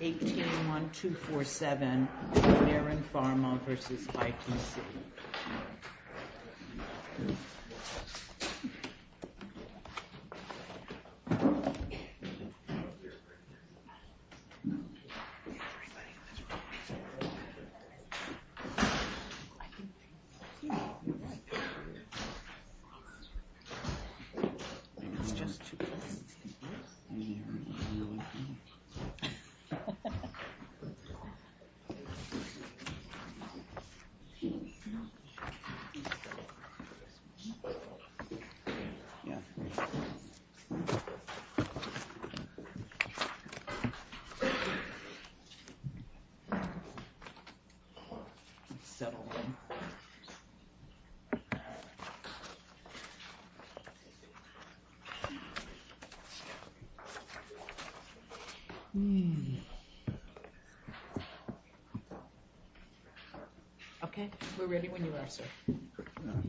18-1247 Mararin Pharma v. ITC Mararin Pharma v. ITC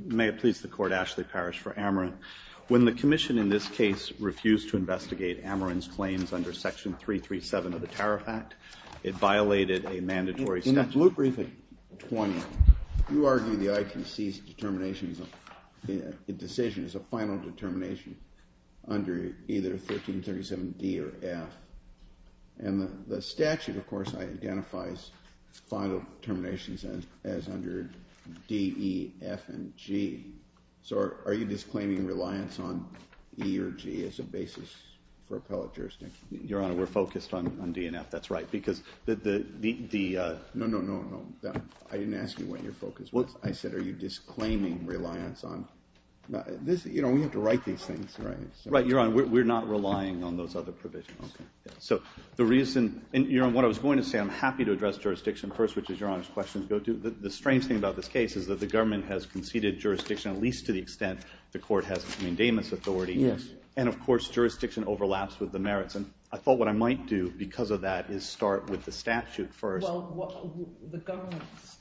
May it please the Court, Ashley Parrish for Amarin. When the Commission in this case refused to investigate Amarin's claims under Section 337 of the Tariff Act, it violated a mandatory statute. In Loop Briefing 20, you argue the ITC's decision is a final determination under either 1337 D or F. And the statute, of course, identifies final determinations as under D, E, F, and G. So are you disclaiming reliance on E or G as a basis for appellate jurisdiction? Your Honor, we're focused on D and F, that's right. No, no, no, no. I didn't ask you what you're focused on. I said are you disclaiming reliance on... You know, we have to write these things. Right, Your Honor, we're not relying on those other provisions. Okay. So the reason, and Your Honor, what I was going to say, I'm happy to address jurisdiction first, which is Your Honor's question. The strange thing about this case is that the government has conceded jurisdiction, at least to the extent the court has an endamments authority. Yes. And, of course, jurisdiction overlaps with the merits. And I thought what I might do because of that is start with the statute first. Well, the government's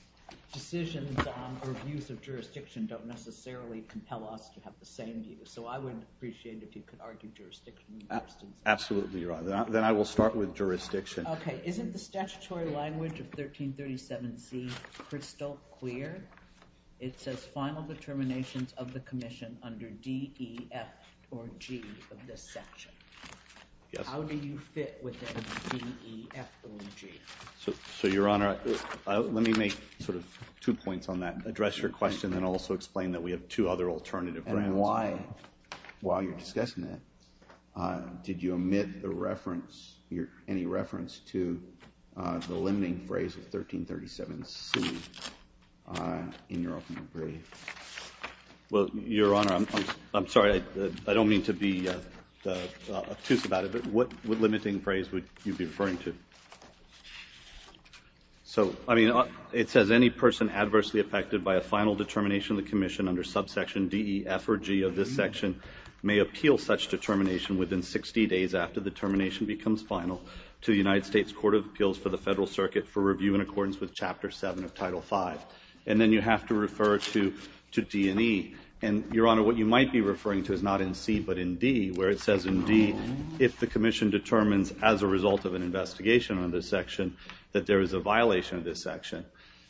decisions on or views of jurisdiction don't necessarily compel us to have the same view. So I would appreciate it if you could argue jurisdiction first. Absolutely, Your Honor. Then I will start with jurisdiction. Okay. Isn't the statutory language of 1337C crystal clear? It says final determinations of the commission under D, E, F, or G of this section. Yes. How do you fit within D, E, F, or G? So, Your Honor, let me make sort of two points on that, address your question, and also explain that we have two other alternative grounds. And why? While you're discussing that, did you omit any reference to the limiting phrase of 1337C in your opening brief? Well, Your Honor, I'm sorry. I don't mean to be obtuse about it, but what limiting phrase would you be referring to? So, I mean, it says any person adversely affected by a final determination of the commission under subsection D, E, F, or G of this section may appeal such determination within 60 days after the termination becomes final to the United States Court of Appeals for the Federal Circuit for review in accordance with Chapter 7 of Title V. And then you have to refer to D and E. And, Your Honor, what you might be referring to is not in C but in D, where it says in D, if the commission determines as a result of an investigation on this section that there is a violation of this section,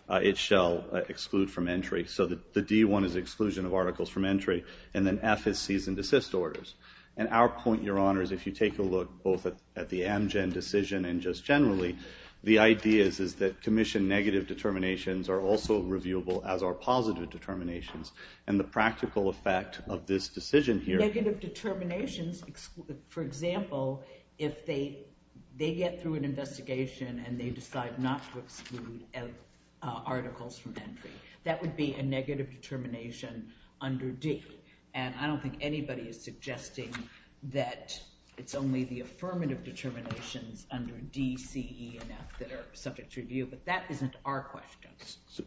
it shall exclude from entry. So the D one is exclusion of articles from entry, and then F is cease and desist orders. And our point, Your Honor, is if you take a look both at the Amgen decision and just generally, the idea is that commission negative determinations are also reviewable as are positive determinations. And the practical effect of this decision here— Negative determinations, for example, if they get through an investigation and they decide not to exclude articles from entry, that would be a negative determination under D. And I don't think anybody is suggesting that it's only the affirmative determinations under D, C, E, and F that are subject to review. But that isn't our question.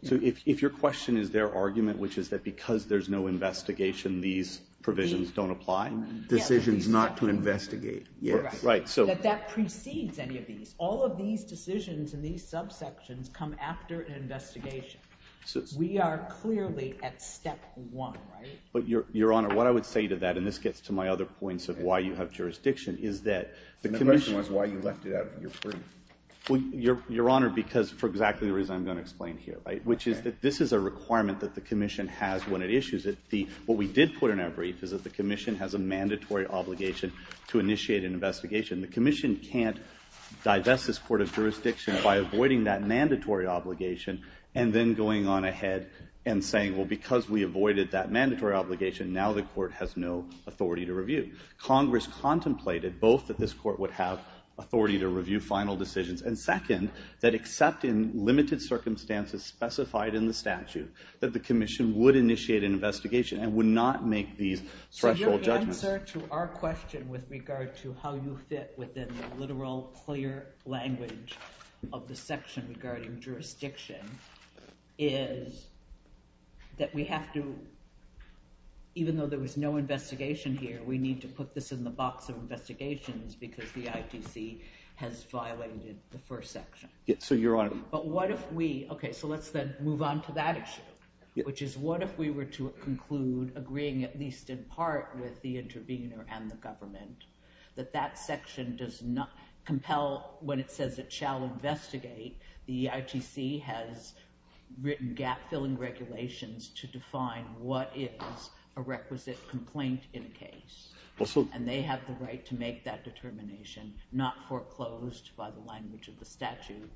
So if your question is their argument, which is that because there's no investigation, these provisions don't apply? Decisions not to investigate. Right. That that precedes any of these. All of these decisions in these subsections come after an investigation. We are clearly at step one, right? But, Your Honor, what I would say to that, and this gets to my other points of why you have jurisdiction, is that the commission— And the question was why you left it out of your brief. Well, Your Honor, because for exactly the reason I'm going to explain here, right, which is that this is a requirement that the commission has when it issues it. What we did put in our brief is that the commission has a mandatory obligation to initiate an investigation. The commission can't divest this court of jurisdiction by avoiding that mandatory obligation and then going on ahead and saying, well, because we avoided that mandatory obligation, now the court has no authority to review. Congress contemplated both that this court would have authority to review final decisions, and second, that except in limited circumstances specified in the statute, that the commission would initiate an investigation and would not make these threshold judgments. The answer to our question with regard to how you fit within the literal, clear language of the section regarding jurisdiction is that we have to— even though there was no investigation here, we need to put this in the box of investigations because the ITC has violated the first section. So, Your Honor— But what if we—OK, so let's then move on to that issue, which is what if we were to conclude, agreeing at least in part with the intervener and the government, that that section does not compel—when it says it shall investigate, the ITC has written gap-filling regulations to define what is a requisite complaint in a case. And they have the right to make that determination, not foreclosed by the language of the statute.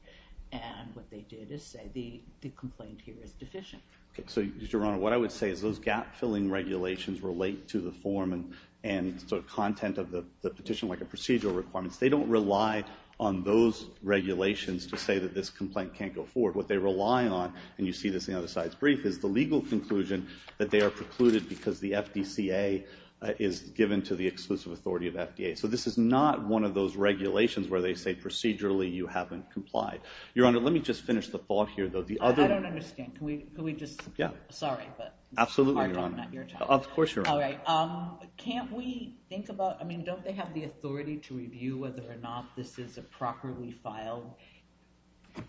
And what they did is say the complaint here is deficient. So, Your Honor, what I would say is those gap-filling regulations relate to the form and sort of content of the petition, like the procedural requirements. They don't rely on those regulations to say that this complaint can't go forward. What they rely on—and you see this in the other side's brief—is the legal conclusion that they are precluded because the FDCA is given to the exclusive authority of FDA. So this is not one of those regulations where they say procedurally you haven't complied. Your Honor, let me just finish the thought here, though. The other— I don't understand. Can we just— Yeah. Sorry, but— Absolutely, Your Honor. Of course, Your Honor. All right. Can't we think about—I mean, don't they have the authority to review whether or not this is a properly filed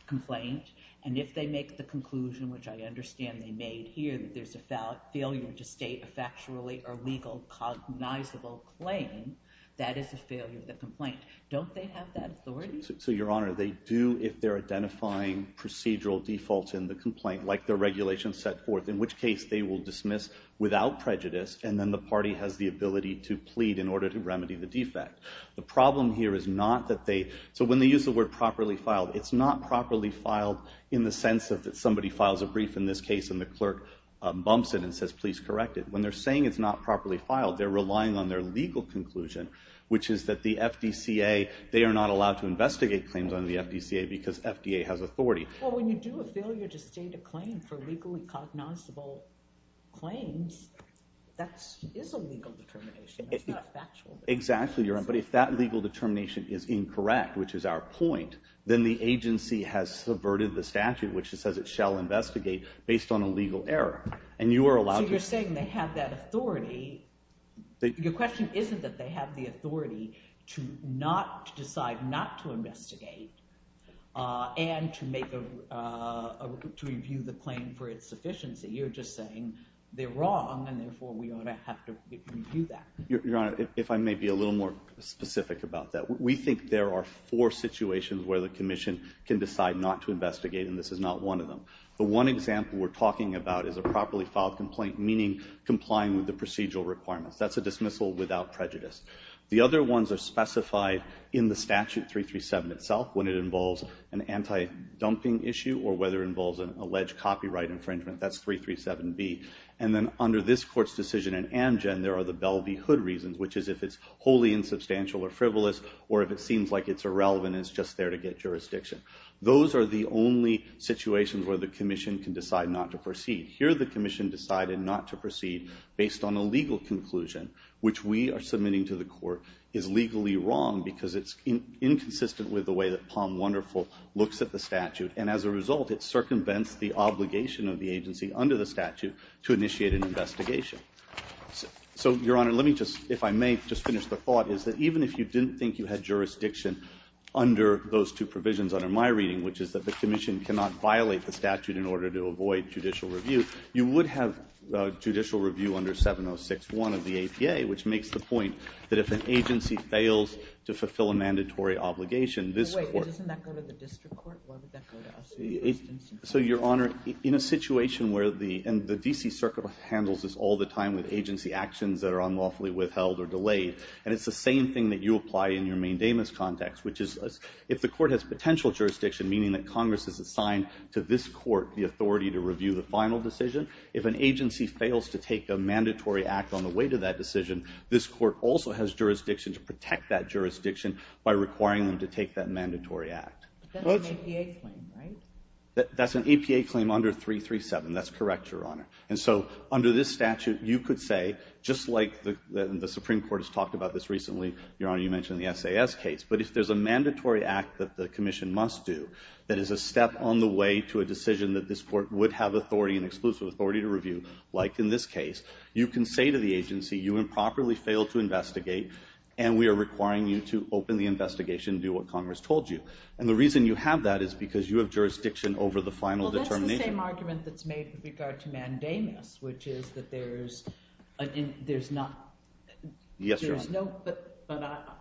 complaint? And if they make the conclusion, which I understand they made here, that there's a failure to state a factually or legal cognizable claim, that is a failure of the complaint. Don't they have that authority? So, Your Honor, they do if they're identifying procedural defaults in the complaint, like the regulations set forth, in which case they will dismiss without prejudice. And then the party has the ability to plead in order to remedy the defect. The problem here is not that they—so when they use the word properly filed, it's not properly filed in the sense that somebody files a brief in this case and the clerk bumps it and says, please correct it. When they're saying it's not properly filed, they're relying on their legal conclusion, which is that the FDCA—they are not allowed to investigate claims under the FDCA because FDA has authority. Well, when you do a failure to state a claim for legally cognizable claims, that is a legal determination. That's not a factual— Exactly, Your Honor. But if that legal determination is incorrect, which is our point, then the agency has subverted the statute, which says it shall investigate based on a legal error. So you're saying they have that authority—your question isn't that they have the authority to not decide not to investigate and to make a—to review the claim for its sufficiency. You're just saying they're wrong, and therefore we ought to have to review that. Your Honor, if I may be a little more specific about that, we think there are four situations where the Commission can decide not to investigate, and this is not one of them. The one example we're talking about is a properly filed complaint, meaning complying with the procedural requirements. That's a dismissal without prejudice. The other ones are specified in the statute, 337 itself, when it involves an anti-dumping issue or whether it involves an alleged copyright infringement. That's 337B. And then under this Court's decision in Amgen, there are the Belle v. Hood reasons, which is if it's wholly insubstantial or frivolous or if it seems like it's irrelevant and it's just there to get jurisdiction. Those are the only situations where the Commission can decide not to proceed. Here the Commission decided not to proceed based on a legal conclusion, which we are submitting to the Court is legally wrong because it's inconsistent with the way that Palm Wonderful looks at the statute. And as a result, it circumvents the obligation of the agency under the statute to initiate an investigation. So, Your Honor, let me just, if I may, just finish the thought is that even if you didn't think you had jurisdiction under those two provisions under my reading, which is that the Commission cannot violate the statute in order to avoid judicial review, you would have judicial review under 706.1 of the APA, which makes the point that if an agency fails to fulfill a mandatory obligation, this Court… Wait, doesn't that go to the district court? So, Your Honor, in a situation where the, and the D.C. Circuit handles this all the time with agency actions that are unlawfully withheld or delayed, and it's the same thing that you apply in your main damus context, which is if the Court has potential jurisdiction, meaning that Congress is assigned to this Court the authority to review the final decision, if an agency fails to take a mandatory act on the way to that decision, this Court also has jurisdiction to protect that jurisdiction by requiring them to take that mandatory act. But that's an APA claim, right? That's an APA claim under 337. That's correct, Your Honor. And so, under this statute, you could say, just like the Supreme Court has talked about this recently, Your Honor, you mentioned the SAS case, but if there's a mandatory act that the Commission must do that is a step on the way to a decision that this Court would have authority and exclusive authority to review, like in this case, you can say to the agency, you improperly failed to investigate, and we are requiring you to open the investigation and do what Congress told you. And the reason you have that is because you have jurisdiction over the final determination. Well, that's the same argument that's made with regard to mandamus, which is that there's not – Yes, Your Honor. No, but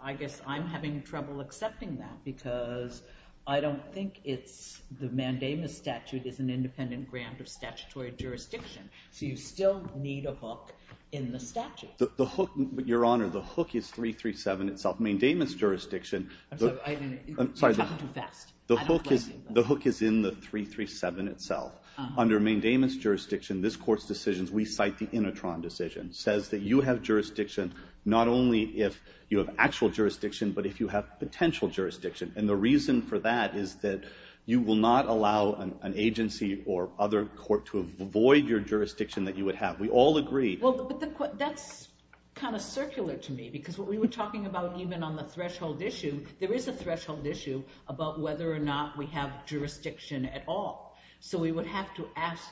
I guess I'm having trouble accepting that because I don't think it's – the mandamus statute is an independent grant of statutory jurisdiction. So you still need a hook in the statute. The hook, Your Honor, the hook is 337 itself. Mandamus jurisdiction – I'm sorry. You're talking too fast. I don't like it. The hook is in the 337 itself. Under mandamus jurisdiction, this Court's decisions, we cite the Inetron decision, says that you have jurisdiction not only if you have actual jurisdiction, but if you have potential jurisdiction. And the reason for that is that you will not allow an agency or other court to avoid your jurisdiction that you would have. We all agree – Well, but that's kind of circular to me because what we were talking about even on the threshold issue, there is a threshold issue about whether or not we have jurisdiction at all. So we would have to ask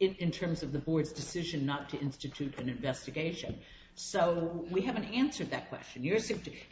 in terms of the board's decision not to institute an investigation. So we haven't answered that question.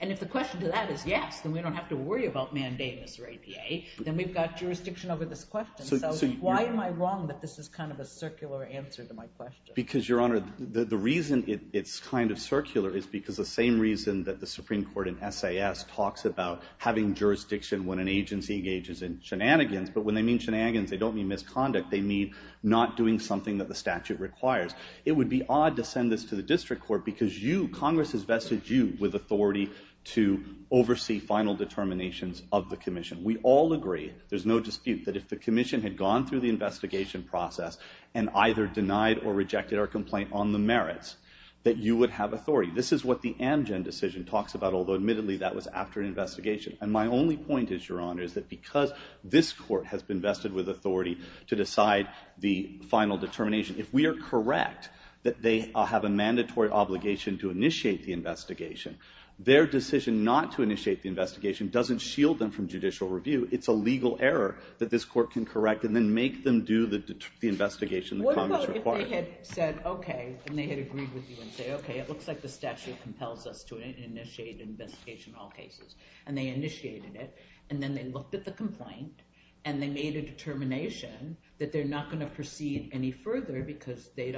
And if the question to that is yes, then we don't have to worry about mandamus or APA. Then we've got jurisdiction over this question. So why am I wrong that this is kind of a circular answer to my question? Because, Your Honor, the reason it's kind of circular is because the same reason that the Supreme Court in SAS talks about having jurisdiction when an agency engages in shenanigans, but when they mean shenanigans, they don't mean misconduct. They mean not doing something that the statute requires. It would be odd to send this to the district court because you, Congress has vested you with authority to oversee final determinations of the commission. We all agree, there's no dispute, that if the commission had gone through the investigation process and either denied or rejected our complaint on the merits, that you would have authority. This is what the Amgen decision talks about, although admittedly that was after an investigation. And my only point is, Your Honor, is that because this court has been vested with authority to decide the final determination, if we are correct that they have a mandatory obligation to initiate the investigation, their decision not to initiate the investigation doesn't shield them from judicial review. It's a legal error that this court can correct and then make them do the investigation that Congress requires. What about if they had said, OK, and they had agreed with you and said, OK, it looks like the statute compels us to initiate an investigation in all cases? And they initiated it, and then they looked at the complaint, and they made a determination that they're not going to proceed any further because they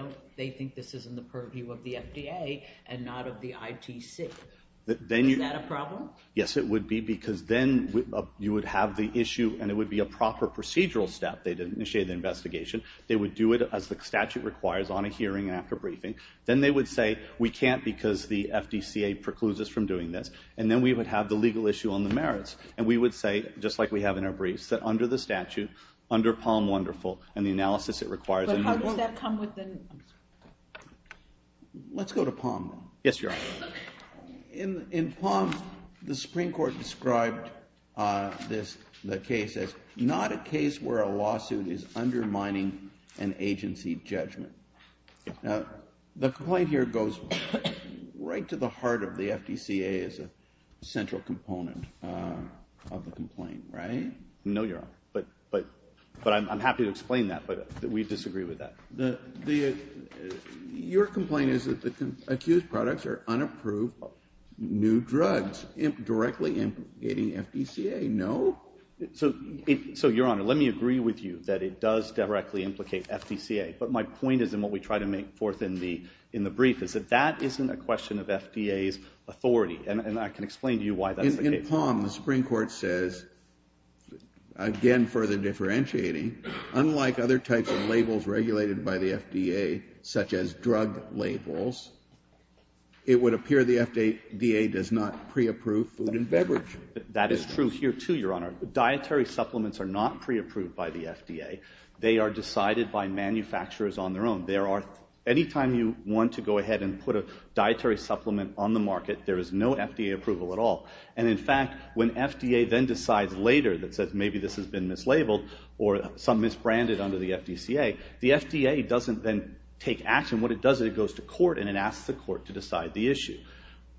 think this is in the purview of the FDA and not of the ITC. Is that a problem? Yes, it would be, because then you would have the issue, and it would be a proper procedural step. They'd initiate the investigation. They would do it as the statute requires, on a hearing and after briefing. Then they would say, we can't because the FDCA precludes us from doing this. And then we would have the legal issue on the merits, and we would say, just like we have in our briefs, that under the statute, under Palm Wonderful, and the analysis it requires. But how does that come within? Let's go to Palm. Yes, Your Honor. In Palm, the Supreme Court described the case as not a case where a lawsuit is undermining an agency judgment. Now, the complaint here goes right to the heart of the FDCA as a central component of the complaint, right? No, Your Honor. But I'm happy to explain that, but we disagree with that. Your complaint is that the accused products are unapproved new drugs directly implicating FDCA. No? So, Your Honor, let me agree with you that it does directly implicate FDCA. But my point is, and what we try to make forth in the brief, is that that isn't a question of FDA's authority. And I can explain to you why that is the case. In Palm, the Supreme Court says, again, further differentiating, unlike other types of labels regulated by the FDA, such as drug labels, it would appear the FDA does not pre-approve food and beverage. That is true here, too, Your Honor. Dietary supplements are not pre-approved by the FDA. They are decided by manufacturers on their own. Anytime you want to go ahead and put a dietary supplement on the market, there is no FDA approval at all. And, in fact, when FDA then decides later that says maybe this has been mislabeled or some misbranded under the FDCA, the FDA doesn't then take action. What it does is it goes to court and it asks the court to decide the issue.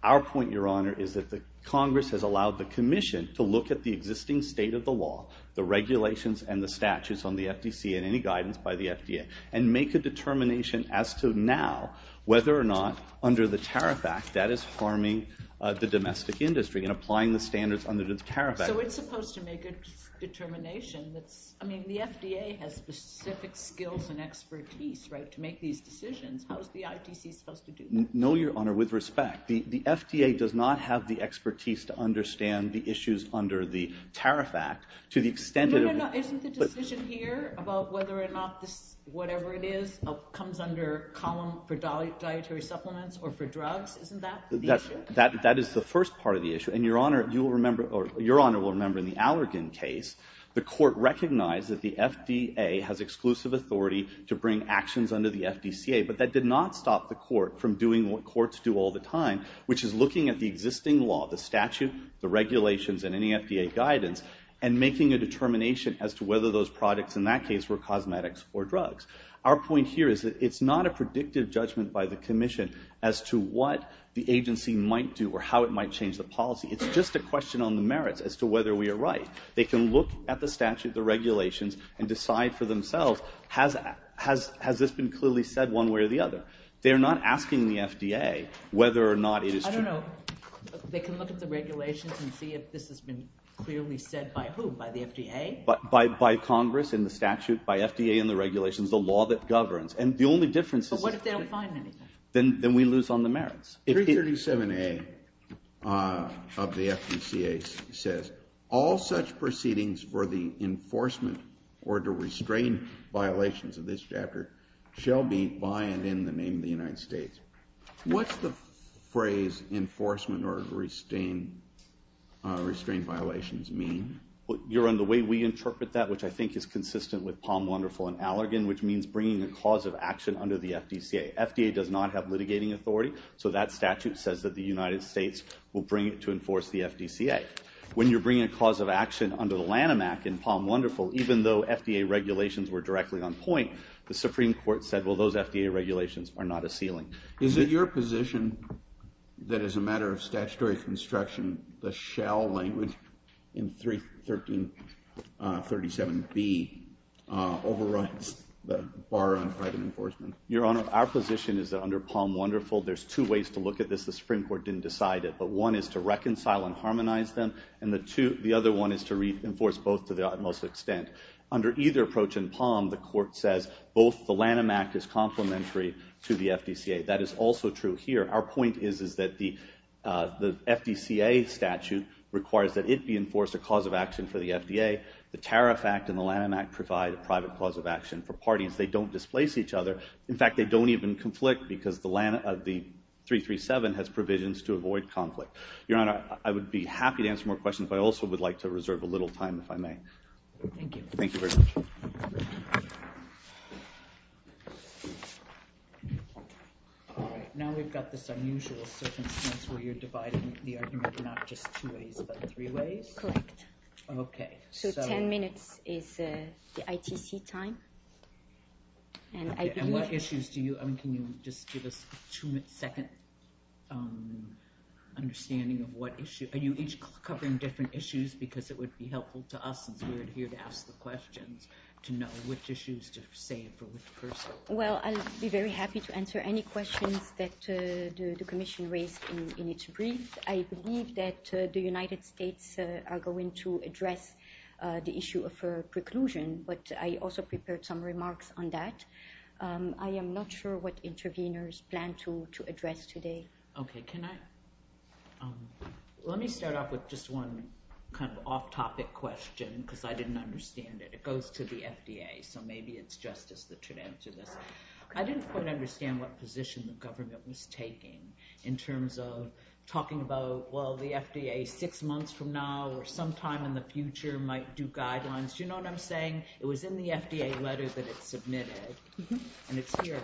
Our point, Your Honor, is that the Congress has allowed the Commission to look at the existing state of the law, the regulations and the statutes on the FDCA and any guidance by the FDA, and make a determination as to now whether or not, under the Tariff Act, that is harming the domestic industry. And applying the standards under the Tariff Act. So it's supposed to make a determination. I mean, the FDA has specific skills and expertise to make these decisions. How is the ITC supposed to do that? No, Your Honor, with respect, the FDA does not have the expertise to understand the issues under the Tariff Act. No, no, no. Isn't the decision here about whether or not whatever it is comes under column for dietary supplements or for drugs? Isn't that the issue? That is the first part of the issue. And, Your Honor, you will remember, or Your Honor will remember in the Allergan case, the court recognized that the FDA has exclusive authority to bring actions under the FDCA, but that did not stop the court from doing what courts do all the time, which is looking at the existing law, the statute, the regulations and any FDA guidance, and making a determination as to whether those products in that case were cosmetics or drugs. Our point here is that it's not a predictive judgment by the commission as to what the agency might do or how it might change the policy. It's just a question on the merits as to whether we are right. They can look at the statute, the regulations, and decide for themselves, has this been clearly said one way or the other? They're not asking the FDA whether or not it is true. I don't know. They can look at the regulations and see if this has been clearly said by whom, by the FDA? By Congress in the statute, by FDA in the regulations. The law that governs. And the only difference is that we lose on the merits. 337A of the FDCA says, all such proceedings for the enforcement or to restrain violations of this chapter shall be by and in the name of the United States. What's the phrase enforcement or to restrain violations mean? You're on the way we interpret that, which I think is consistent with Palm Wonderful and Allergan, which means bringing a cause of action under the FDCA. FDA does not have litigating authority, so that statute says that the United States will bring it to enforce the FDCA. When you're bringing a cause of action under the Lanham Act in Palm Wonderful, even though FDA regulations were directly on point, the Supreme Court said, well, those FDA regulations are not a ceiling. Is it your position that as a matter of statutory construction, the shall language in 337B overrides the bar on private enforcement? Your Honor, our position is that under Palm Wonderful, there's two ways to look at this. The Supreme Court didn't decide it, but one is to reconcile and harmonize them, and the other one is to reinforce both to the utmost extent. Under either approach in Palm, the court says both the Lanham Act is complementary to the FDCA. That is also true here. Our point is that the FDCA statute requires that it be enforced a cause of action for the FDA. The Tariff Act and the Lanham Act provide a private cause of action for parties. They don't displace each other. In fact, they don't even conflict because the 337 has provisions to avoid conflict. Your Honor, I would be happy to answer more questions, but I also would like to reserve a little time if I may. Thank you. Now we've got this unusual circumstance where you're dividing the argument not just two ways, but three ways. Correct. Okay. So 10 minutes is the ITC time. And what issues do you—I mean, can you just give us a second understanding of what issue— are you each covering different issues because it would be helpful to us, since we're here to ask the questions, to know which issues to save for which person? Well, I'll be very happy to answer any questions that the Commission raised in its brief. I believe that the United States are going to address the issue of preclusion, but I also prepared some remarks on that. I am not sure what interveners plan to address today. Okay. Can I—let me start off with just one kind of off-topic question because I didn't understand it. It goes to the FDA, so maybe it's Justice that should answer this. I didn't quite understand what position the government was taking in terms of talking about, well, the FDA six months from now or sometime in the future might do guidelines. Do you know what I'm saying? It was in the FDA letter that it submitted, and it's here.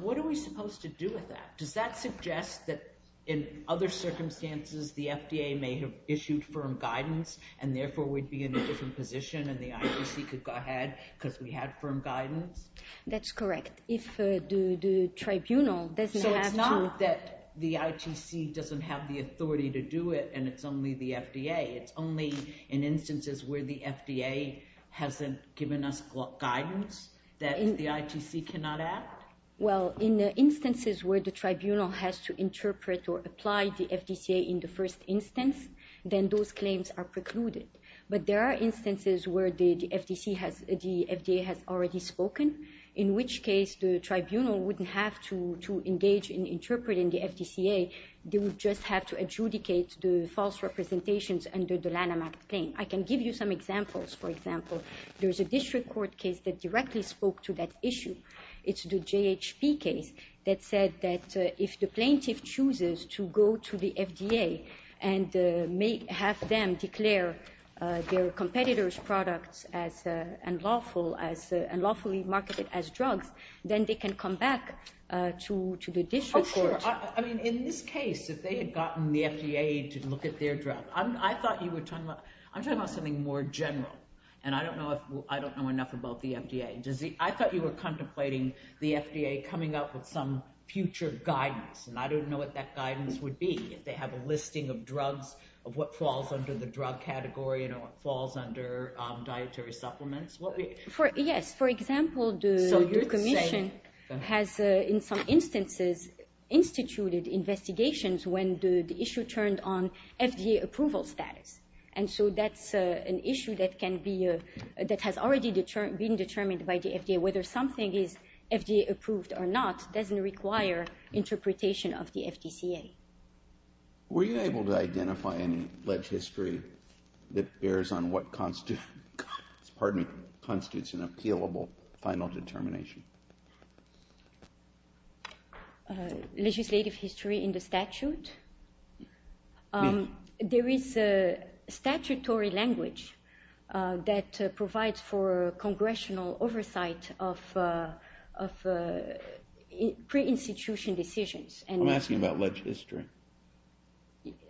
What are we supposed to do with that? Does that suggest that in other circumstances the FDA may have issued firm guidance and therefore we'd be in a different position and the ITC could go ahead because we had firm guidance? That's correct. If the tribunal doesn't have to— So it's not that the ITC doesn't have the authority to do it and it's only the FDA. It's only in instances where the FDA hasn't given us guidance, that the ITC cannot act? Well, in instances where the tribunal has to interpret or apply the FDCA in the first instance, then those claims are precluded. But there are instances where the FDA has already spoken, in which case the tribunal wouldn't have to engage in interpreting the FDCA. They would just have to adjudicate the false representations under the Lanham Act claim. I can give you some examples. For example, there's a district court case that directly spoke to that issue. It's the JHP case that said that if the plaintiff chooses to go to the FDA and have them declare their competitor's products as unlawfully marketed as drugs, then they can come back to the district court. Oh, sure. I mean, in this case, if they had gotten the FDA to look at their drug— I'm talking about something more general, and I don't know enough about the FDA. I thought you were contemplating the FDA coming up with some future guidance, and I don't know what that guidance would be, if they have a listing of drugs, of what falls under the drug category and what falls under dietary supplements. Yes, for example, the commission has, in some instances, instituted investigations when the issue turned on FDA approval status. And so that's an issue that has already been determined by the FDA. Whether something is FDA approved or not doesn't require interpretation of the FDCA. Were you able to identify any legislature that bears on what constitutes an appealable final determination? Legislative history in the statute? There is a statutory language that provides for congressional oversight of pre-institution decisions. I'm asking about legislature.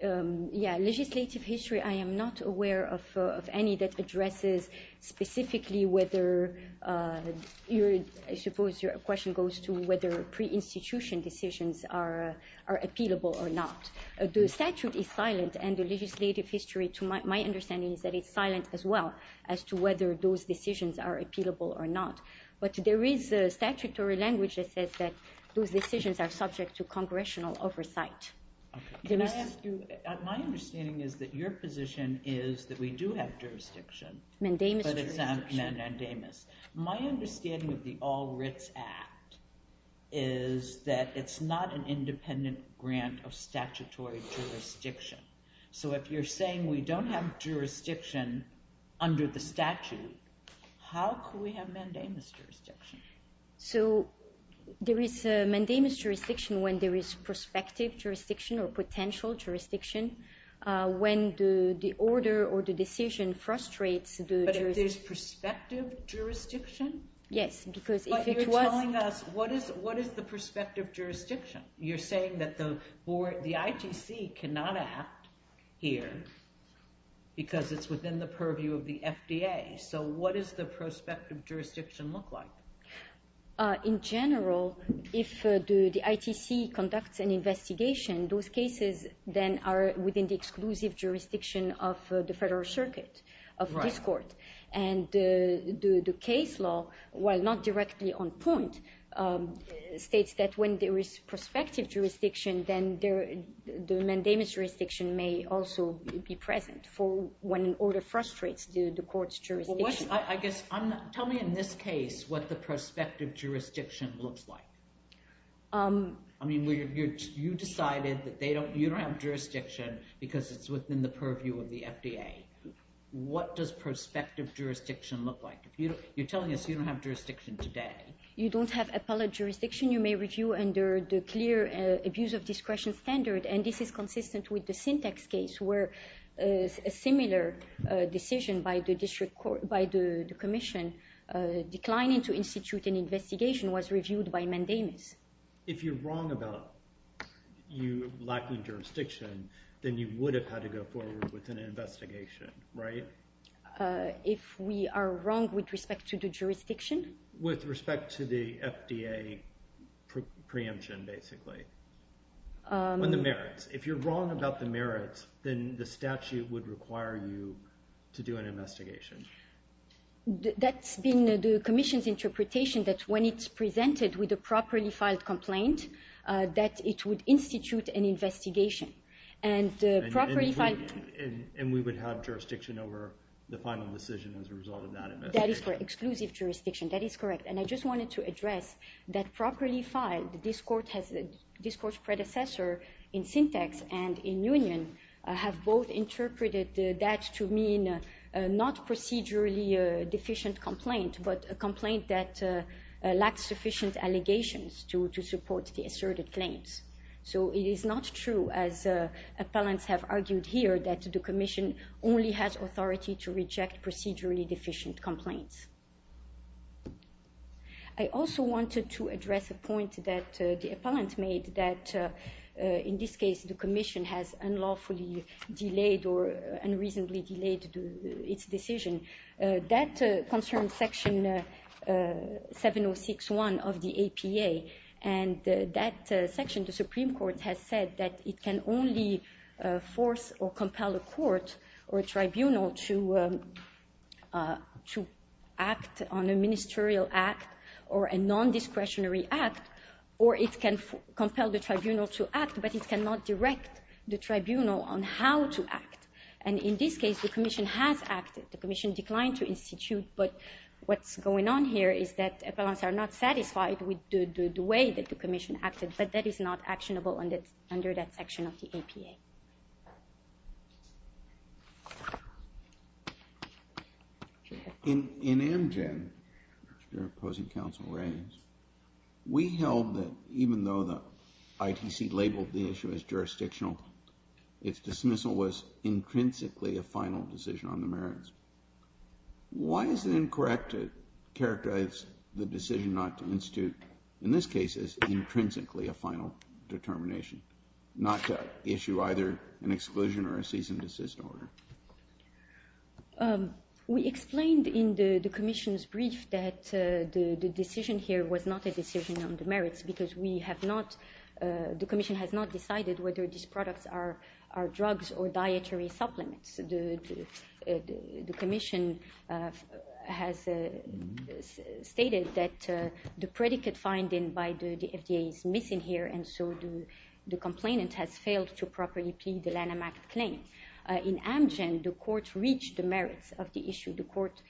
Yeah, legislative history. I am not aware of any that addresses specifically whether— I suppose your question goes to whether pre-institution decisions are appealable or not. The statute is silent, and the legislative history, to my understanding, is that it's silent as well as to whether those decisions are appealable or not. But there is a statutory language that says that those decisions are subject to congressional oversight. My understanding is that your position is that we do have jurisdiction, but it's not mandamus. My understanding of the All Writs Act is that it's not an independent grant of statutory jurisdiction. So if you're saying we don't have jurisdiction under the statute, how could we have mandamus jurisdiction? So there is mandamus jurisdiction when there is prospective jurisdiction or potential jurisdiction, when the order or the decision frustrates the— But if there's prospective jurisdiction? Yes, because if it was— But you're telling us, what is the prospective jurisdiction? You're saying that the ITC cannot act here because it's within the purview of the FDA. So what does the prospective jurisdiction look like? In general, if the ITC conducts an investigation, those cases then are within the exclusive jurisdiction of the federal circuit, of this court. And the case law, while not directly on point, states that when there is prospective jurisdiction, then the mandamus jurisdiction may also be present for when an order frustrates the court's jurisdiction. Tell me in this case what the prospective jurisdiction looks like. I mean, you decided that you don't have jurisdiction because it's within the purview of the FDA. What does prospective jurisdiction look like? You're telling us you don't have jurisdiction today. You don't have appellate jurisdiction you may review under the clear abuse of discretion standard, and this is consistent with the Syntex case where a similar decision by the commission declining to institute an investigation was reviewed by mandamus. If you're wrong about you lacking jurisdiction, then you would have had to go forward with an investigation, right? If we are wrong with respect to the jurisdiction? With respect to the FDA preemption, basically. On the merits. If you're wrong about the merits, then the statute would require you to do an investigation. That's been the commission's interpretation that when it's presented with a properly filed complaint, that it would institute an investigation. And we would have jurisdiction over the final decision as a result of that investigation. That is correct. Exclusive jurisdiction. That is correct. And I just wanted to address that properly filed. This court's predecessor in Syntex and in Union have both interpreted that to mean not procedurally deficient complaint, but a complaint that lacks sufficient allegations to support the asserted claims. So it is not true, as appellants have argued here, that the commission only has authority to reject procedurally deficient complaints. I also wanted to address a point that the appellant made, that in this case the commission has unlawfully delayed or unreasonably delayed its decision. That concerns section 706.1 of the APA. And that section, the Supreme Court has said that it can only force or compel a court or a tribunal to act on a ministerial act or a non-discretionary act, or it can compel the tribunal to act, but it cannot direct the tribunal on how to act. And in this case, the commission has acted, the commission declined to institute, but what's going on here is that appellants are not satisfied with the way that the commission acted, but that is not actionable under that section of the APA. In Amgen, which the opposing counsel raised, we held that even though the ITC labeled the issue as jurisdictional, its dismissal was intrinsically a final decision on the merits. Why is it incorrect to characterize the decision not to institute, in this case, as intrinsically a final determination, not to issue either an exclusion or a cease and desist order? We explained in the commission's brief that the decision here was not a decision on the merits because we have not, the commission has not decided whether these products are drugs or dietary supplements. The commission has stated that the predicate finding by the FDA is missing here, and so the complainant has failed to properly plead the Lanham Act claim. In Amgen, the court reached the merits of the issue. The court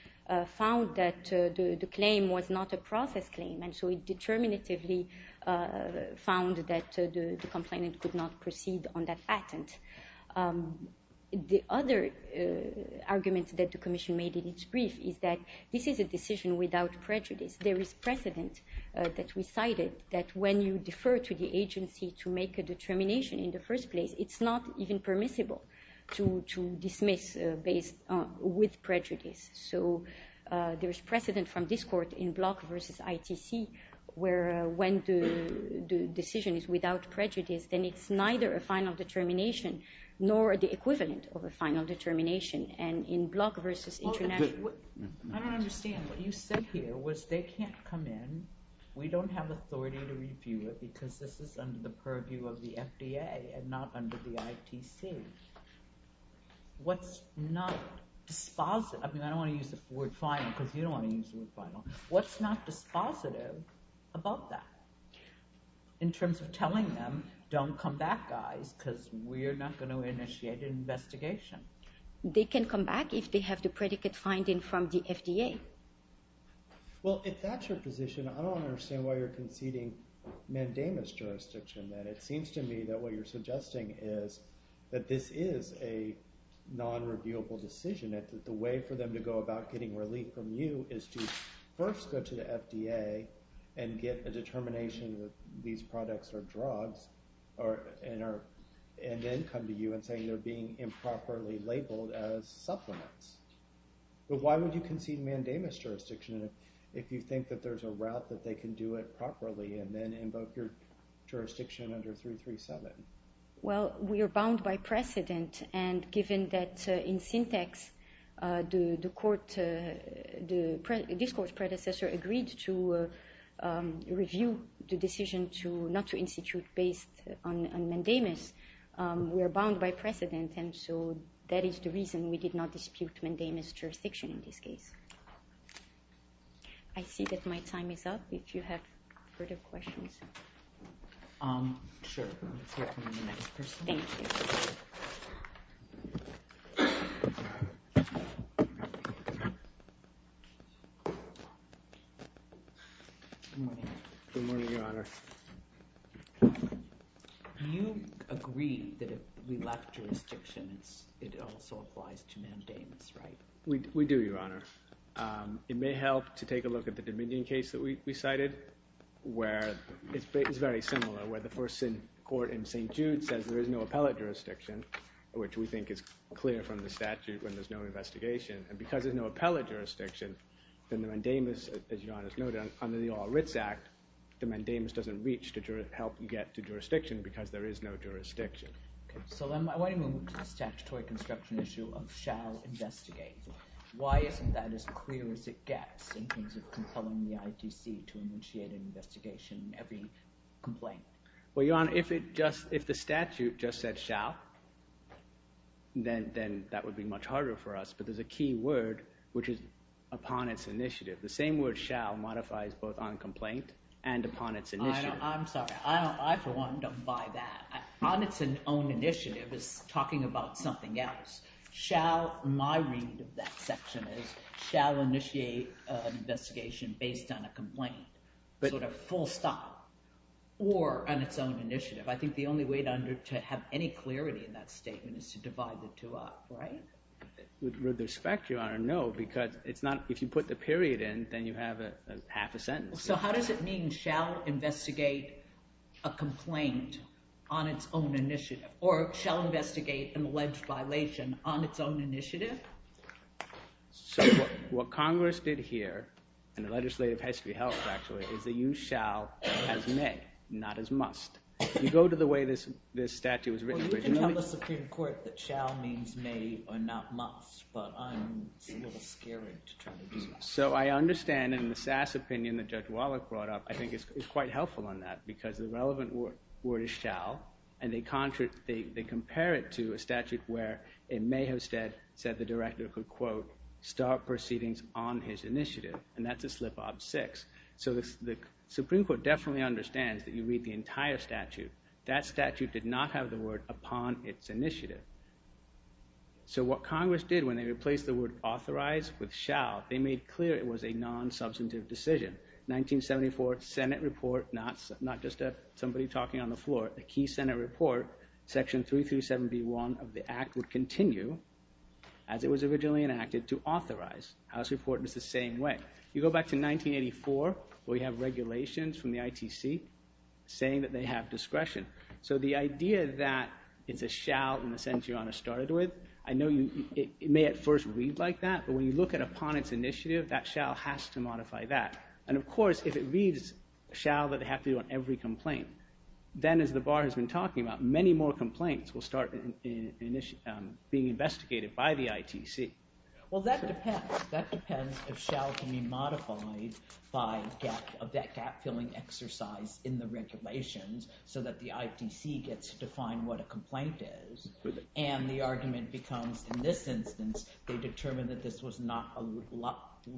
found that the claim was not a process claim, and so it determinatively found that the complainant could not proceed on that patent. The other argument that the commission made in its brief is that this is a decision without prejudice. There is precedent that we cited that when you defer to the agency to make a determination in the first place, it's not even permissible to dismiss with prejudice. So there is precedent from this court in Block v. ITC where when the decision is without prejudice, then it's neither a final determination nor the equivalent of a final determination in Block v. International. I don't understand. What you said here was they can't come in, we don't have authority to review it because this is under the purview of the FDA and not under the ITC. What's not dispositive, I mean I don't want to use the word final because you don't want to use the word final, what's not dispositive about that in terms of telling them, don't come back guys because we're not going to initiate an investigation? They can come back if they have the predicate finding from the FDA. Well, if that's your position, I don't understand why you're conceding mandamus jurisdiction then. It seems to me that what you're suggesting is that this is a non-reviewable decision, that the way for them to go about getting relief from you is to first go to the FDA and get a determination that these products are drugs and then come to you and say they're being improperly labeled as supplements. But why would you concede mandamus jurisdiction if you think that there's a route that they can do it properly and then invoke your jurisdiction under 337? Well, we are bound by precedent and given that in syntax the discourse predecessor agreed to review the decision not to institute based on mandamus, we are bound by precedent and so that is the reason we did not dispute mandamus jurisdiction in this case. I see that my time is up if you have further questions. Sure, let's hear from the next person. Thank you. Good morning. Good morning, Your Honor. You agree that if we lack jurisdiction it also applies to mandamus, right? We do, Your Honor. It may help to take a look at the Dominion case that we cited where it's very similar, where the first court in St. Jude says there is no appellate jurisdiction, which we think is clear from the statute when there's no investigation. And because there's no appellate jurisdiction, then the mandamus, as Your Honor has noted, under the All Writs Act, the mandamus doesn't reach to help you get to jurisdiction because there is no jurisdiction. Okay, so then why didn't we move to the statutory construction issue of shall investigate? Why isn't that as clear as it gets in terms of compelling the ITC to initiate an investigation in every complaint? Well, Your Honor, if the statute just said shall, then that would be much harder for us, but there's a key word which is upon its initiative. The same word shall modifies both on complaint and upon its initiative. I'm sorry. I for one don't buy that. On its own initiative is talking about something else. My read of that section is shall initiate an investigation based on a complaint, sort of full stop, or on its own initiative. I think the only way to have any clarity in that statement is to divide the two up, right? With respect, Your Honor, no, because if you put the period in, then you have half a sentence. So how does it mean shall investigate a complaint on its own initiative or shall investigate an alleged violation on its own initiative? So what Congress did here, and the legislative history helps actually, is they used shall as may, not as must. You go to the way this statute was written originally. Well, you can tell the Supreme Court that shall means may or not must, but I'm a little scared to try to do that. So I understand in the Sass opinion that Judge Wallach brought up, I think it's quite helpful on that and they compare it to a statute where it may have said the director could, quote, start proceedings on his initiative, and that's a slip of six. So the Supreme Court definitely understands that you read the entire statute. That statute did not have the word upon its initiative. So what Congress did when they replaced the word authorized with shall, they made clear it was a non-substantive decision. 1974 Senate report, not just somebody talking on the floor, a key Senate report, section 337B1 of the act would continue as it was originally enacted to authorize. House report was the same way. You go back to 1984 where you have regulations from the ITC saying that they have discretion. So the idea that it's a shall in the sense Your Honor started with, I know it may at first read like that, but when you look at upon its initiative, that shall has to modify that. And, of course, if it reads shall that they have to do on every complaint, then as the bar has been talking about, many more complaints will start being investigated by the ITC. Well, that depends. That depends if shall can be modified by that gap-filling exercise in the regulations so that the ITC gets to define what a complaint is. And the argument becomes, in this instance, they determined that this was not a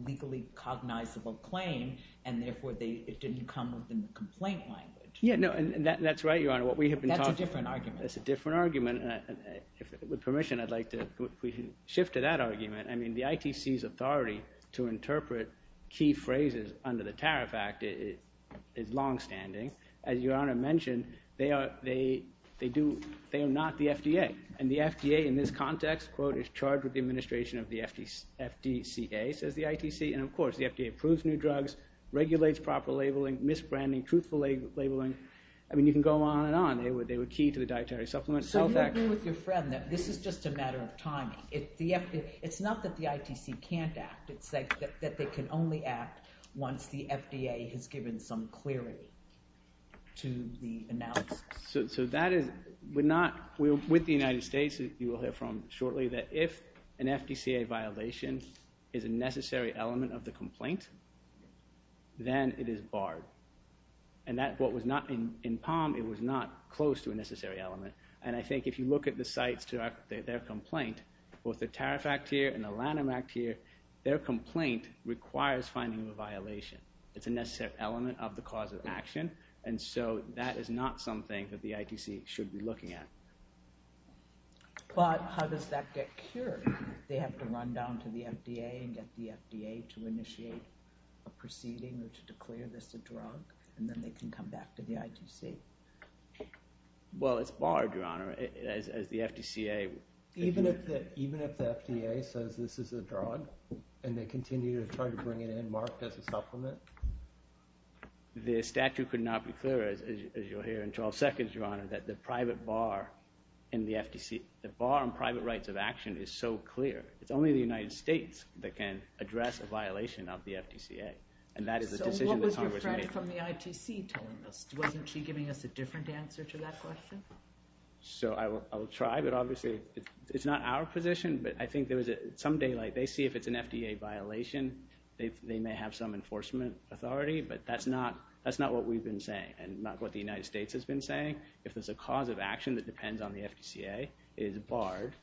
legally cognizable claim, and therefore it didn't come within the complaint language. Yeah, no, and that's right, Your Honor. That's a different argument. That's a different argument. With permission, I'd like to shift to that argument. I mean the ITC's authority to interpret key phrases under the Tariff Act is longstanding. As Your Honor mentioned, they are not the FDA. And the FDA in this context, quote, is charged with the administration of the FDCA, says the ITC. And, of course, the FDA approves new drugs, regulates proper labeling, misbranding, truthful labeling. I mean you can go on and on. They were key to the dietary supplement. So you agree with your friend that this is just a matter of timing. It's not that the ITC can't act. It's that they can only act once the FDA has given some clarity to the analysis. So that is – we're not – with the United States, you will hear from shortly, that if an FDCA violation is a necessary element of the complaint, then it is barred. And that's what was not – in Palm, it was not close to a necessary element. And I think if you look at the sites to their complaint, both the Tariff Act here and the Lanham Act here, their complaint requires finding a violation. It's a necessary element of the cause of action. And so that is not something that the ITC should be looking at. But how does that get cured? They have to run down to the FDA and get the FDA to initiate a proceeding or to declare this a drug, and then they can come back to the ITC. Well, it's barred, Your Honor, as the FDCA – Even if the FDA says this is a drug and they continue to try to bring it in marked as a supplement? The statute could not be clearer, as you'll hear in 12 seconds, Your Honor, that the private bar in the FTC – the bar on private rights of action is so clear. It's only the United States that can address a violation of the FTCA, and that is a decision that Congress made. So what was your friend from the ITC telling us? Wasn't she giving us a different answer to that question? So I will try, but obviously it's not our position. But I think there was some daylight. They see if it's an FDA violation, they may have some enforcement authority, but that's not what we've been saying and not what the United States has been saying. If there's a cause of action that depends on the FTCA, it is barred,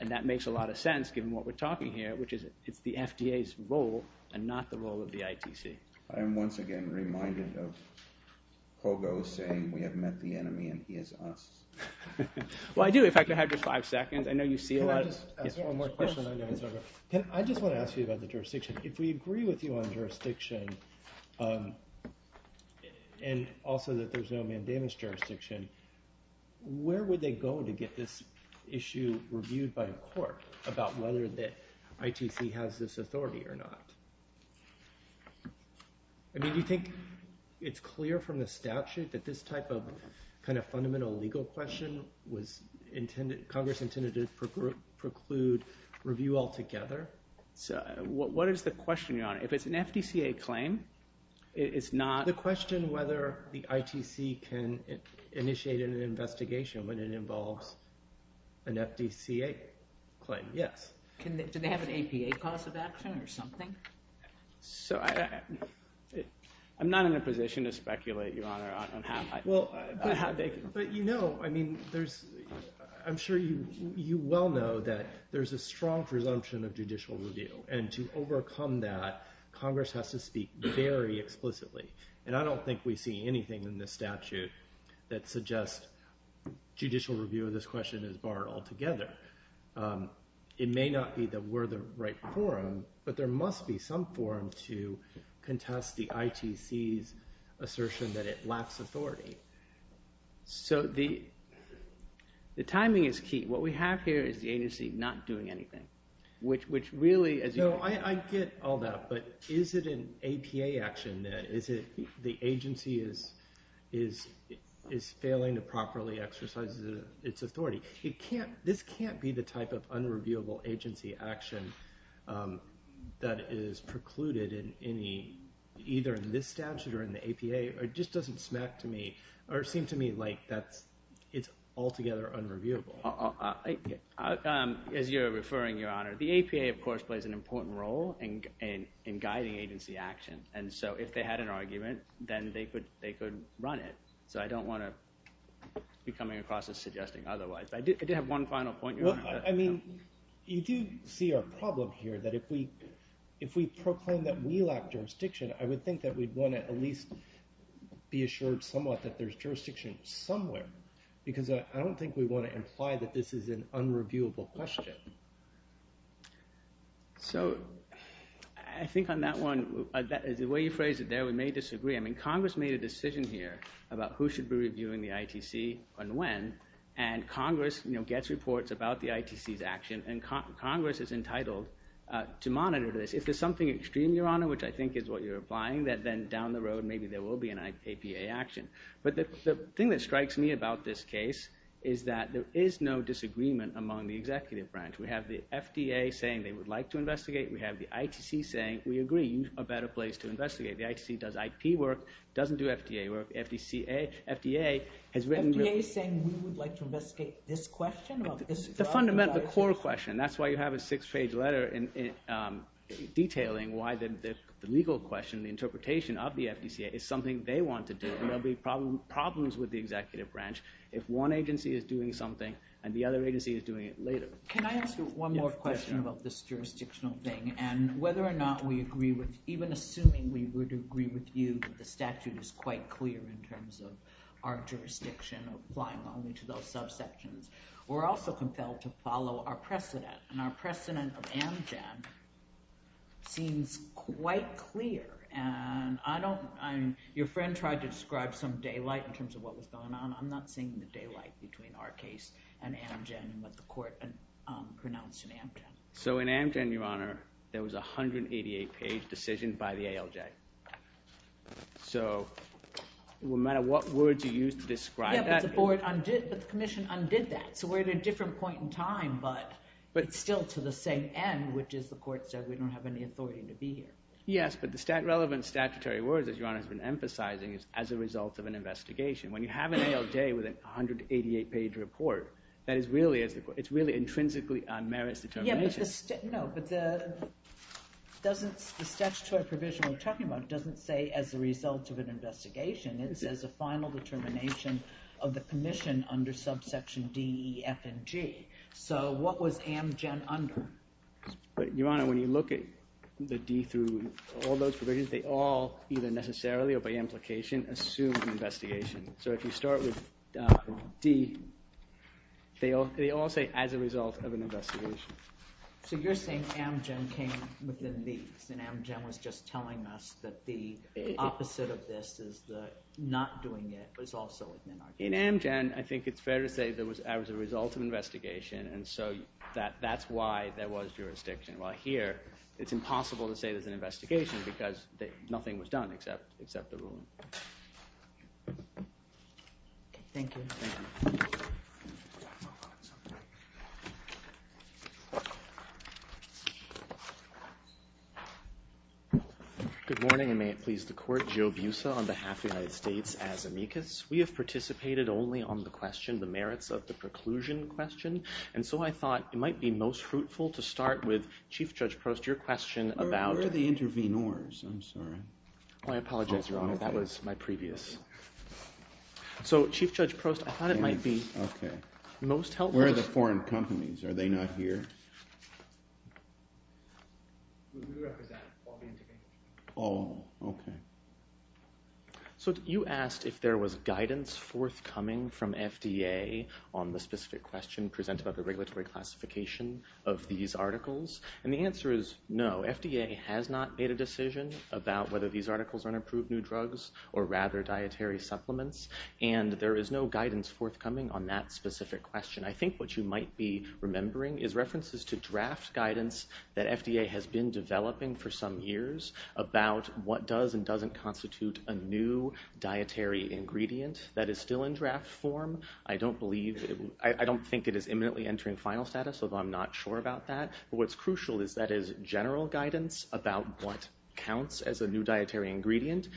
and that makes a lot of sense given what we're talking here, which is it's the FDA's role and not the role of the ITC. I am once again reminded of Kogos saying we have met the enemy and he is us. Well, I do. If I could have just five seconds. I know you see a lot of— Can I just ask one more question? I know it's over. I just want to ask you about the jurisdiction. If we agree with you on jurisdiction and also that there's no mandamus jurisdiction, where would they go to get this issue reviewed by the court about whether the ITC has this authority or not? Do you think it's clear from the statute that this type of fundamental legal question was Congress intended to preclude review altogether? What is the question, Your Honor? If it's an FTCA claim, it's not— The question whether the ITC can initiate an investigation when it involves an FTCA claim, yes. Do they have an APA cause of action or something? So I'm not in a position to speculate, Your Honor, on how they— But you know, I mean, I'm sure you well know that there's a strong presumption of judicial review, and to overcome that, Congress has to speak very explicitly. And I don't think we see anything in this statute that suggests judicial review of this question is barred altogether. But it may not be that we're the right forum, but there must be some forum to contest the ITC's assertion that it lacks authority. So the timing is key. What we have here is the agency not doing anything, which really— No, I get all that, but is it an APA action? Is it the agency is failing to properly exercise its authority? This can't be the type of unreviewable agency action that is precluded in any— either in this statute or in the APA. It just doesn't smack to me or seem to me like it's altogether unreviewable. As you're referring, Your Honor, the APA, of course, plays an important role in guiding agency action. And so if they had an argument, then they could run it. So I don't want to be coming across as suggesting otherwise. I did have one final point, Your Honor. Well, I mean, you do see our problem here that if we proclaim that we lack jurisdiction, I would think that we'd want to at least be assured somewhat that there's jurisdiction somewhere. Because I don't think we want to imply that this is an unreviewable question. So I think on that one, the way you phrased it there, we may disagree. I mean, Congress made a decision here about who should be reviewing the ITC and when. And Congress gets reports about the ITC's action, and Congress is entitled to monitor this. If there's something extreme, Your Honor, which I think is what you're implying, then down the road maybe there will be an APA action. But the thing that strikes me about this case is that there is no disagreement among the executive branch. We have the FDA saying they would like to investigate. We have the ITC saying, we agree, a better place to investigate. The ITC does IP work, doesn't do FDA work. FDA has written to us. FDA is saying we would like to investigate this question? The fundamental core question. That's why you have a six-page letter detailing why the legal question, the interpretation of the FDCA, is something they want to do. And there will be problems with the executive branch if one agency is doing something and the other agency is doing it later. Can I ask you one more question about this jurisdictional thing and whether or not we agree with even assuming we would agree with you that the statute is quite clear in terms of our jurisdiction applying only to those subsections. We're also compelled to follow our precedent. And our precedent of Amgen seems quite clear. And your friend tried to describe some daylight in terms of what was going on. I'm not seeing the daylight between our case and Amgen and what the court pronounced in Amgen. So in Amgen, Your Honor, there was a 188-page decision by the ALJ. So no matter what words you use to describe that. But the commission undid that. So we're at a different point in time, but it's still to the same end, which is the court said we don't have any authority to be here. Yes, but the relevant statutory words, as Your Honor has been emphasizing, is as a result of an investigation. When you have an ALJ with a 188-page report, that is really intrinsically on merits determination. No, but the statutory provision we're talking about doesn't say as a result of an investigation. It says a final determination of the commission under subsection D, E, F, and G. So what was Amgen under? Your Honor, when you look at the D through all those provisions, they all either necessarily or by implication assume an investigation. So if you start with D, they all say as a result of an investigation. So you're saying Amgen came within these, and Amgen was just telling us that the opposite of this is not doing it, but it's also within our jurisdiction. In Amgen, I think it's fair to say that it was a result of an investigation, and so that's why there was jurisdiction. While here, it's impossible to say there's an investigation because nothing was done except the ruling. Thank you. Good morning, and may it please the Court. Joe Busa on behalf of the United States as amicus. We have participated only on the question, the merits of the preclusion question, and so I thought it might be most fruitful to start with, Chief Judge Prost, your question about Where are the intervenors? I'm sorry. Oh, I apologize, Your Honor. That was my previous. So, Chief Judge Prost, I thought it might be most helpful. Where are the foreign companies? Are they not here? We represent all the investigations. All. Okay. So you asked if there was guidance forthcoming from FDA on the specific question presented by the regulatory classification of these articles, and the answer is no. FDA has not made a decision about whether these articles are approved new drugs or rather dietary supplements, and there is no guidance forthcoming on that specific question. I think what you might be remembering is references to draft guidance that FDA has been developing for some years about what does and doesn't constitute a new dietary ingredient that is still in draft form. I don't think it is imminently entering final status, although I'm not sure about that. What's crucial is that is general guidance about what counts as a new dietary ingredient.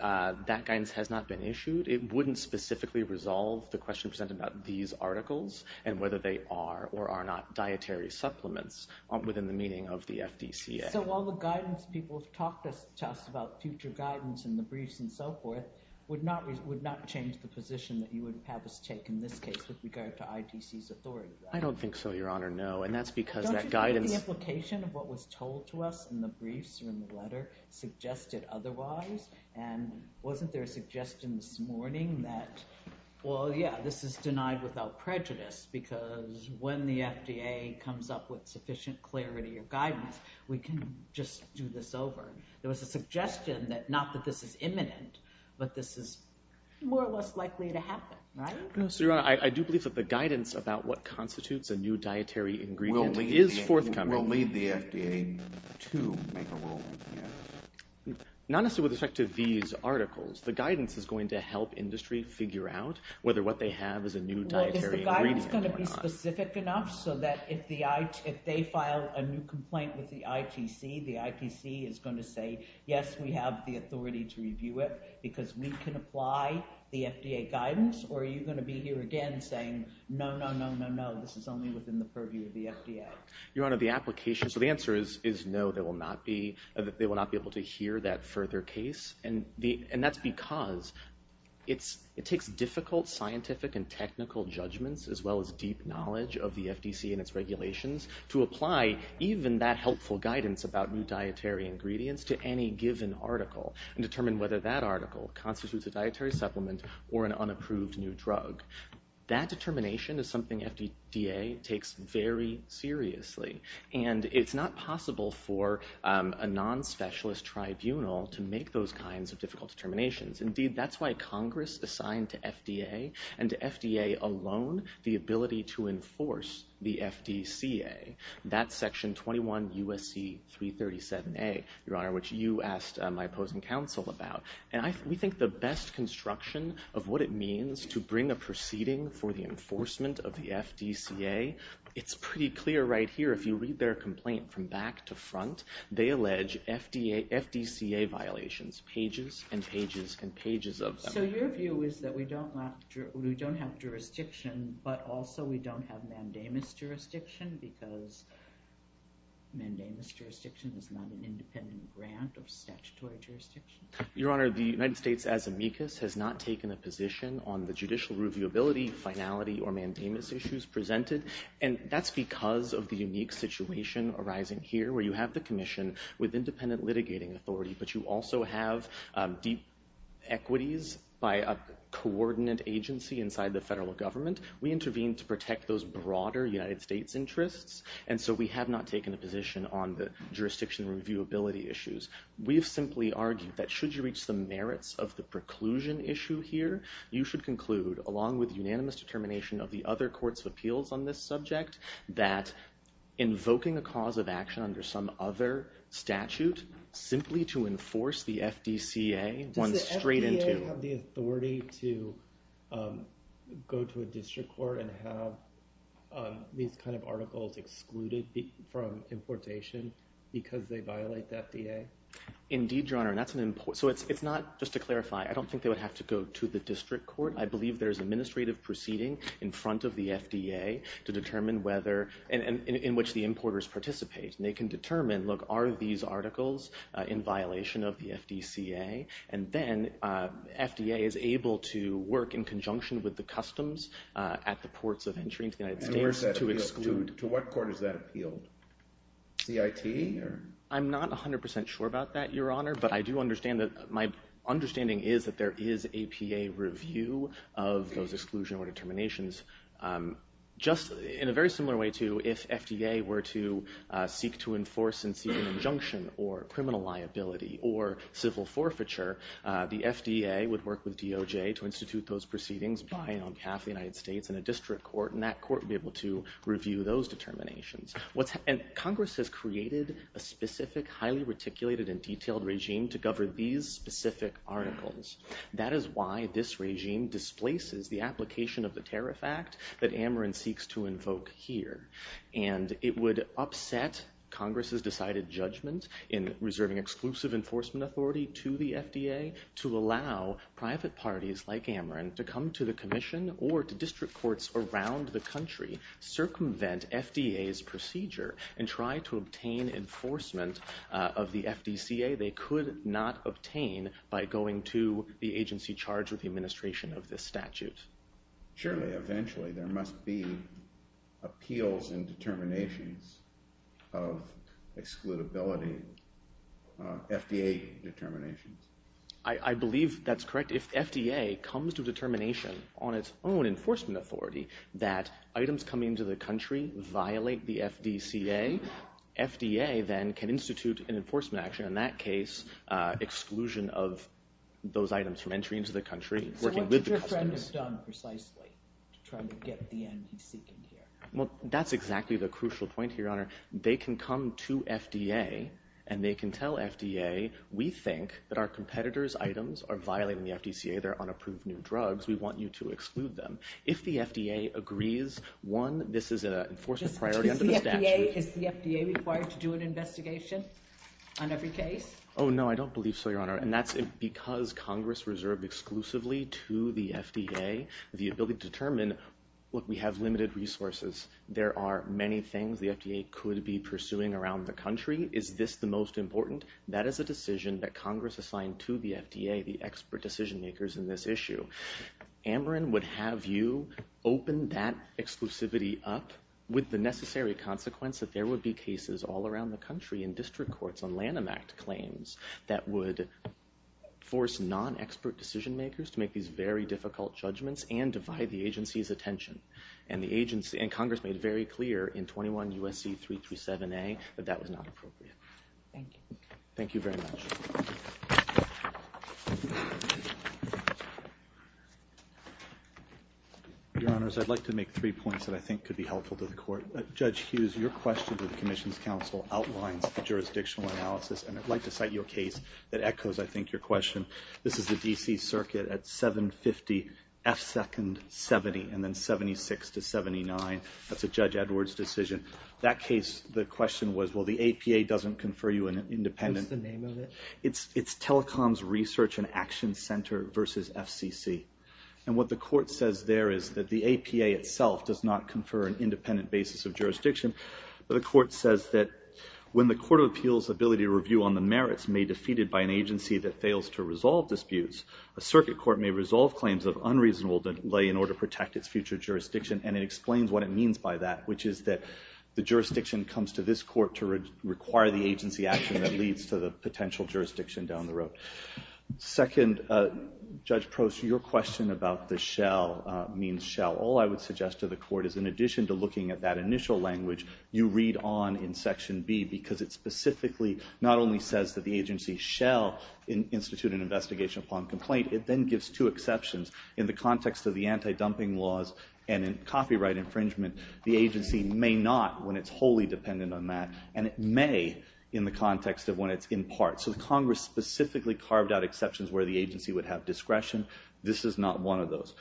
That guidance has not been issued. It wouldn't specifically resolve the question presented about these articles and whether they are or are not dietary supplements within the meaning of the FDCA. So all the guidance people have talked to us about, future guidance and the briefs and so forth, would not change the position that you would have us take in this case with regard to IDC's authority? I don't think so, Your Honor. No. And that's because that guidance... Don't you think the implication of what was told to us in the briefs or in the letter suggested otherwise? And wasn't there a suggestion this morning that, well, yeah, this is denied without prejudice because when the FDA comes up with sufficient clarity or guidance, we can just do this over? There was a suggestion that not that this is imminent, but this is more or less likely to happen, right? No, so Your Honor, I do believe that the guidance about what constitutes a new dietary ingredient is forthcoming. We'll leave the FDA to make a rule with you. Not necessarily with respect to these articles. The guidance is going to help industry figure out whether what they have is a new dietary ingredient or not. Is the guidance going to be specific enough so that if they file a new complaint with the ITC, the ITC is going to say, yes, we have the authority to review it because we can apply the FDA guidance? Or are you going to be here again saying, no, no, no, no, no, this is only within the purview of the FDA? Your Honor, the application, so the answer is no, they will not be able to hear that further case. And that's because it takes difficult scientific and technical judgments as well as deep knowledge of the FDC and its regulations to apply even that helpful guidance about new dietary ingredients to any given article and determine whether that article constitutes a dietary supplement or an unapproved new drug. That determination is something FDA takes very seriously. And it's not possible for a non-specialist tribunal to make those kinds of difficult determinations. Indeed, that's why Congress assigned to FDA and to FDA alone the ability to enforce the FDCA. That's Section 21 U.S.C. 337A, Your Honor, which you asked my opposing counsel about. And we think the best construction of what it means to bring a proceeding for the enforcement of the FDCA, it's pretty clear right here, if you read their complaint from back to front, they allege FDCA violations, pages and pages and pages of them. So your view is that we don't have jurisdiction, but also we don't have mandamus jurisdiction because mandamus jurisdiction is not an independent grant or statutory jurisdiction? Your Honor, the United States, as amicus, has not taken a position on the judicial reviewability, finality, or mandamus issues presented. And that's because of the unique situation arising here where you have the commission with independent litigating authority, but you also have deep equities by a coordinate agency inside the federal government. We intervene to protect those broader United States interests, and so we have not taken a position on the jurisdiction reviewability issues. We have simply argued that should you reach the merits of the preclusion issue here, you should conclude, along with unanimous determination of the other courts of appeals on this subject, that invoking a cause of action under some other statute simply to enforce the FDCA runs straight into... Does the FDA have the authority to go to a district court and have these kind of articles excluded from importation because they violate the FDA? Indeed, Your Honor, and that's an import... So it's not... Just to clarify, I don't think they would have to go to the district court. I believe there's administrative proceeding in front of the FDA to determine whether... In which the importers participate, and they can determine, look, are these articles in violation of the FDCA? And then FDA is able to work in conjunction with the customs at the ports of entry into the United States to exclude... To what court is that appealed? CIT? I'm not 100% sure about that, Your Honor, but I do understand that... My understanding is that there is a PA review of those exclusion or determinations. Just in a very similar way to if FDA were to seek to enforce and seek an injunction or criminal liability or civil forfeiture, the FDA would work with DOJ to institute those proceedings by and on behalf of the United States in a district court, and that court would be able to review those determinations. And Congress has created a specific, highly reticulated and detailed regime to govern these specific articles. That is why this regime displaces the application of the Tariff Act that Ameren seeks to invoke here. And it would upset Congress's decided judgment in reserving exclusive enforcement authority to the FDA to allow private parties like Ameren to come to the commission or to district courts around the country, circumvent FDA's procedure, and try to obtain enforcement of the FDCA. They could not obtain by going to the agency charged with the administration of this statute. Surely, eventually, there must be appeals and determinations of excludability, FDA determinations. I believe that's correct. If FDA comes to a determination on its own enforcement authority that items coming into the country violate the FDCA, FDA then can institute an enforcement action, in that case, exclusion of those items from entry into the country. So what did your friend have done precisely to try to get the end he's seeking here? Well, that's exactly the crucial point here, Your Honor. They can come to FDA, and they can tell FDA, we think that our competitor's items are violating the FDCA. They're unapproved new drugs. We want you to exclude them. If the FDA agrees, one, this is an enforcement priority under the statute. Is the FDA required to do an investigation on every case? Oh, no, I don't believe so, Your Honor. And that's because Congress reserved exclusively to the FDA the ability to determine, look, we have limited resources. There are many things the FDA could be pursuing around the country. Is this the most important? That is a decision that Congress assigned to the FDA, the expert decision-makers in this issue. Ameren would have you open that exclusivity up with the necessary consequence that there would be cases all around the country in district courts on Lanham Act claims that would force non-expert decision-makers to make these very difficult judgments and divide the agency's attention. And Congress made very clear in 21 U.S.C. 337a that that was not appropriate. Thank you. Thank you very much. Your Honors, I'd like to make three points that I think could be helpful to the court. Judge Hughes, your question to the Commission's counsel outlines the jurisdictional analysis, and I'd like to cite your case that echoes, I think, your question. This is the D.C. Circuit at 750 F. Second 70, and then 76 to 79. That's a Judge Edwards decision. That case, the question was, well, the APA doesn't confer you an independent... What's the name of it? It's Telecoms Research and Action Center versus FCC. And what the court says there is that the APA itself does not confer an independent basis of jurisdiction, but the court says that when the Court of Appeals' ability to review on the merits may be defeated by an agency that fails to resolve disputes, a circuit court may resolve claims of unreasonable delay in order to protect its future jurisdiction, and it explains what it means by that, which is that the jurisdiction comes to this court to require the agency action that leads to the potential jurisdiction down the road. Second, Judge Prost, your question about the shell means shell. All I would suggest to the court is, in addition to looking at that initial language, you read on in Section B, because it specifically not only says that the agency shall institute an investigation upon complaint, it then gives two exceptions. In the context of the anti-dumping laws and in copyright infringement, the agency may not, when it's wholly dependent on that, and it may in the context of when it's in part. So the Congress specifically carved out exceptions where the agency would have discretion. This is not one of those.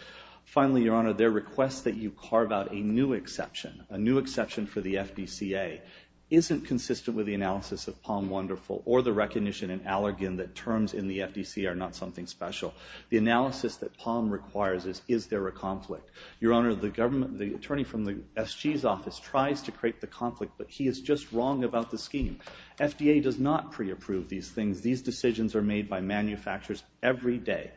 Finally, Your Honor, their request that you carve out a new exception, a new exception for the FDCA, isn't consistent with the analysis of Palm Wonderful or the recognition in Allergan that terms in the FDC are not something special. The analysis that Palm requires is, is there a conflict? Your Honor, the attorney from the SG's office tries to create the conflict, but he is just wrong about the scheme. FDA does not pre-approve these things. These decisions are made by manufacturers every day.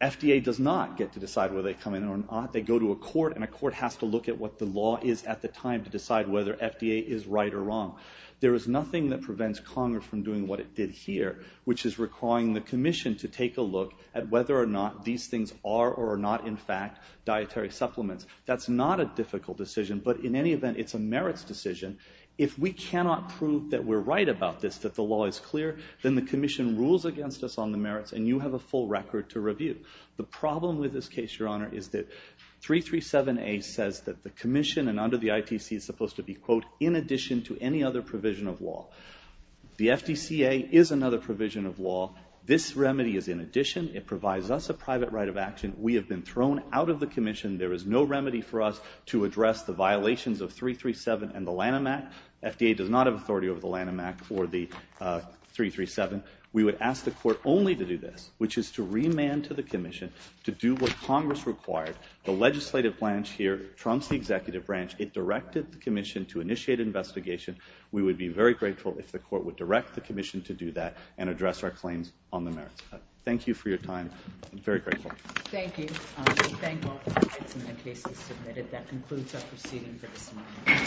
FDA does not get to decide whether they come in or not. They go to a court, and a court has to look at what the law is at the time to decide whether FDA is right or wrong. There is nothing that prevents Conger from doing what it did here, which is requiring the commission to take a look at whether or not these things are or are not, in fact, dietary supplements. That's not a difficult decision, but in any event, it's a merits decision. If we cannot prove that we're right about this, that the law is clear, then the commission rules against us on the merits, and you have a full record to review. The problem with this case, Your Honor, is that 337A says that the commission, and under the ITC, is supposed to be, quote, in addition to any other provision of law. The FDCA is another provision of law. This remedy is in addition. It provides us a private right of action. We have been thrown out of the commission. There is no remedy for us to address the violations of 337 and the Lanham Act. FDA does not have authority over the Lanham Act or the 337. We would ask the court only to do this, which is to remand to the commission to do what Congress required. The legislative branch here trumps the executive branch. It directed the commission to initiate an investigation. We would be very grateful if the court would direct the commission to do that and address our claims on the merits. Thank you for your time. I'm very grateful. Thank you. I thank all the witnesses in the cases submitted. That concludes our proceeding for this morning.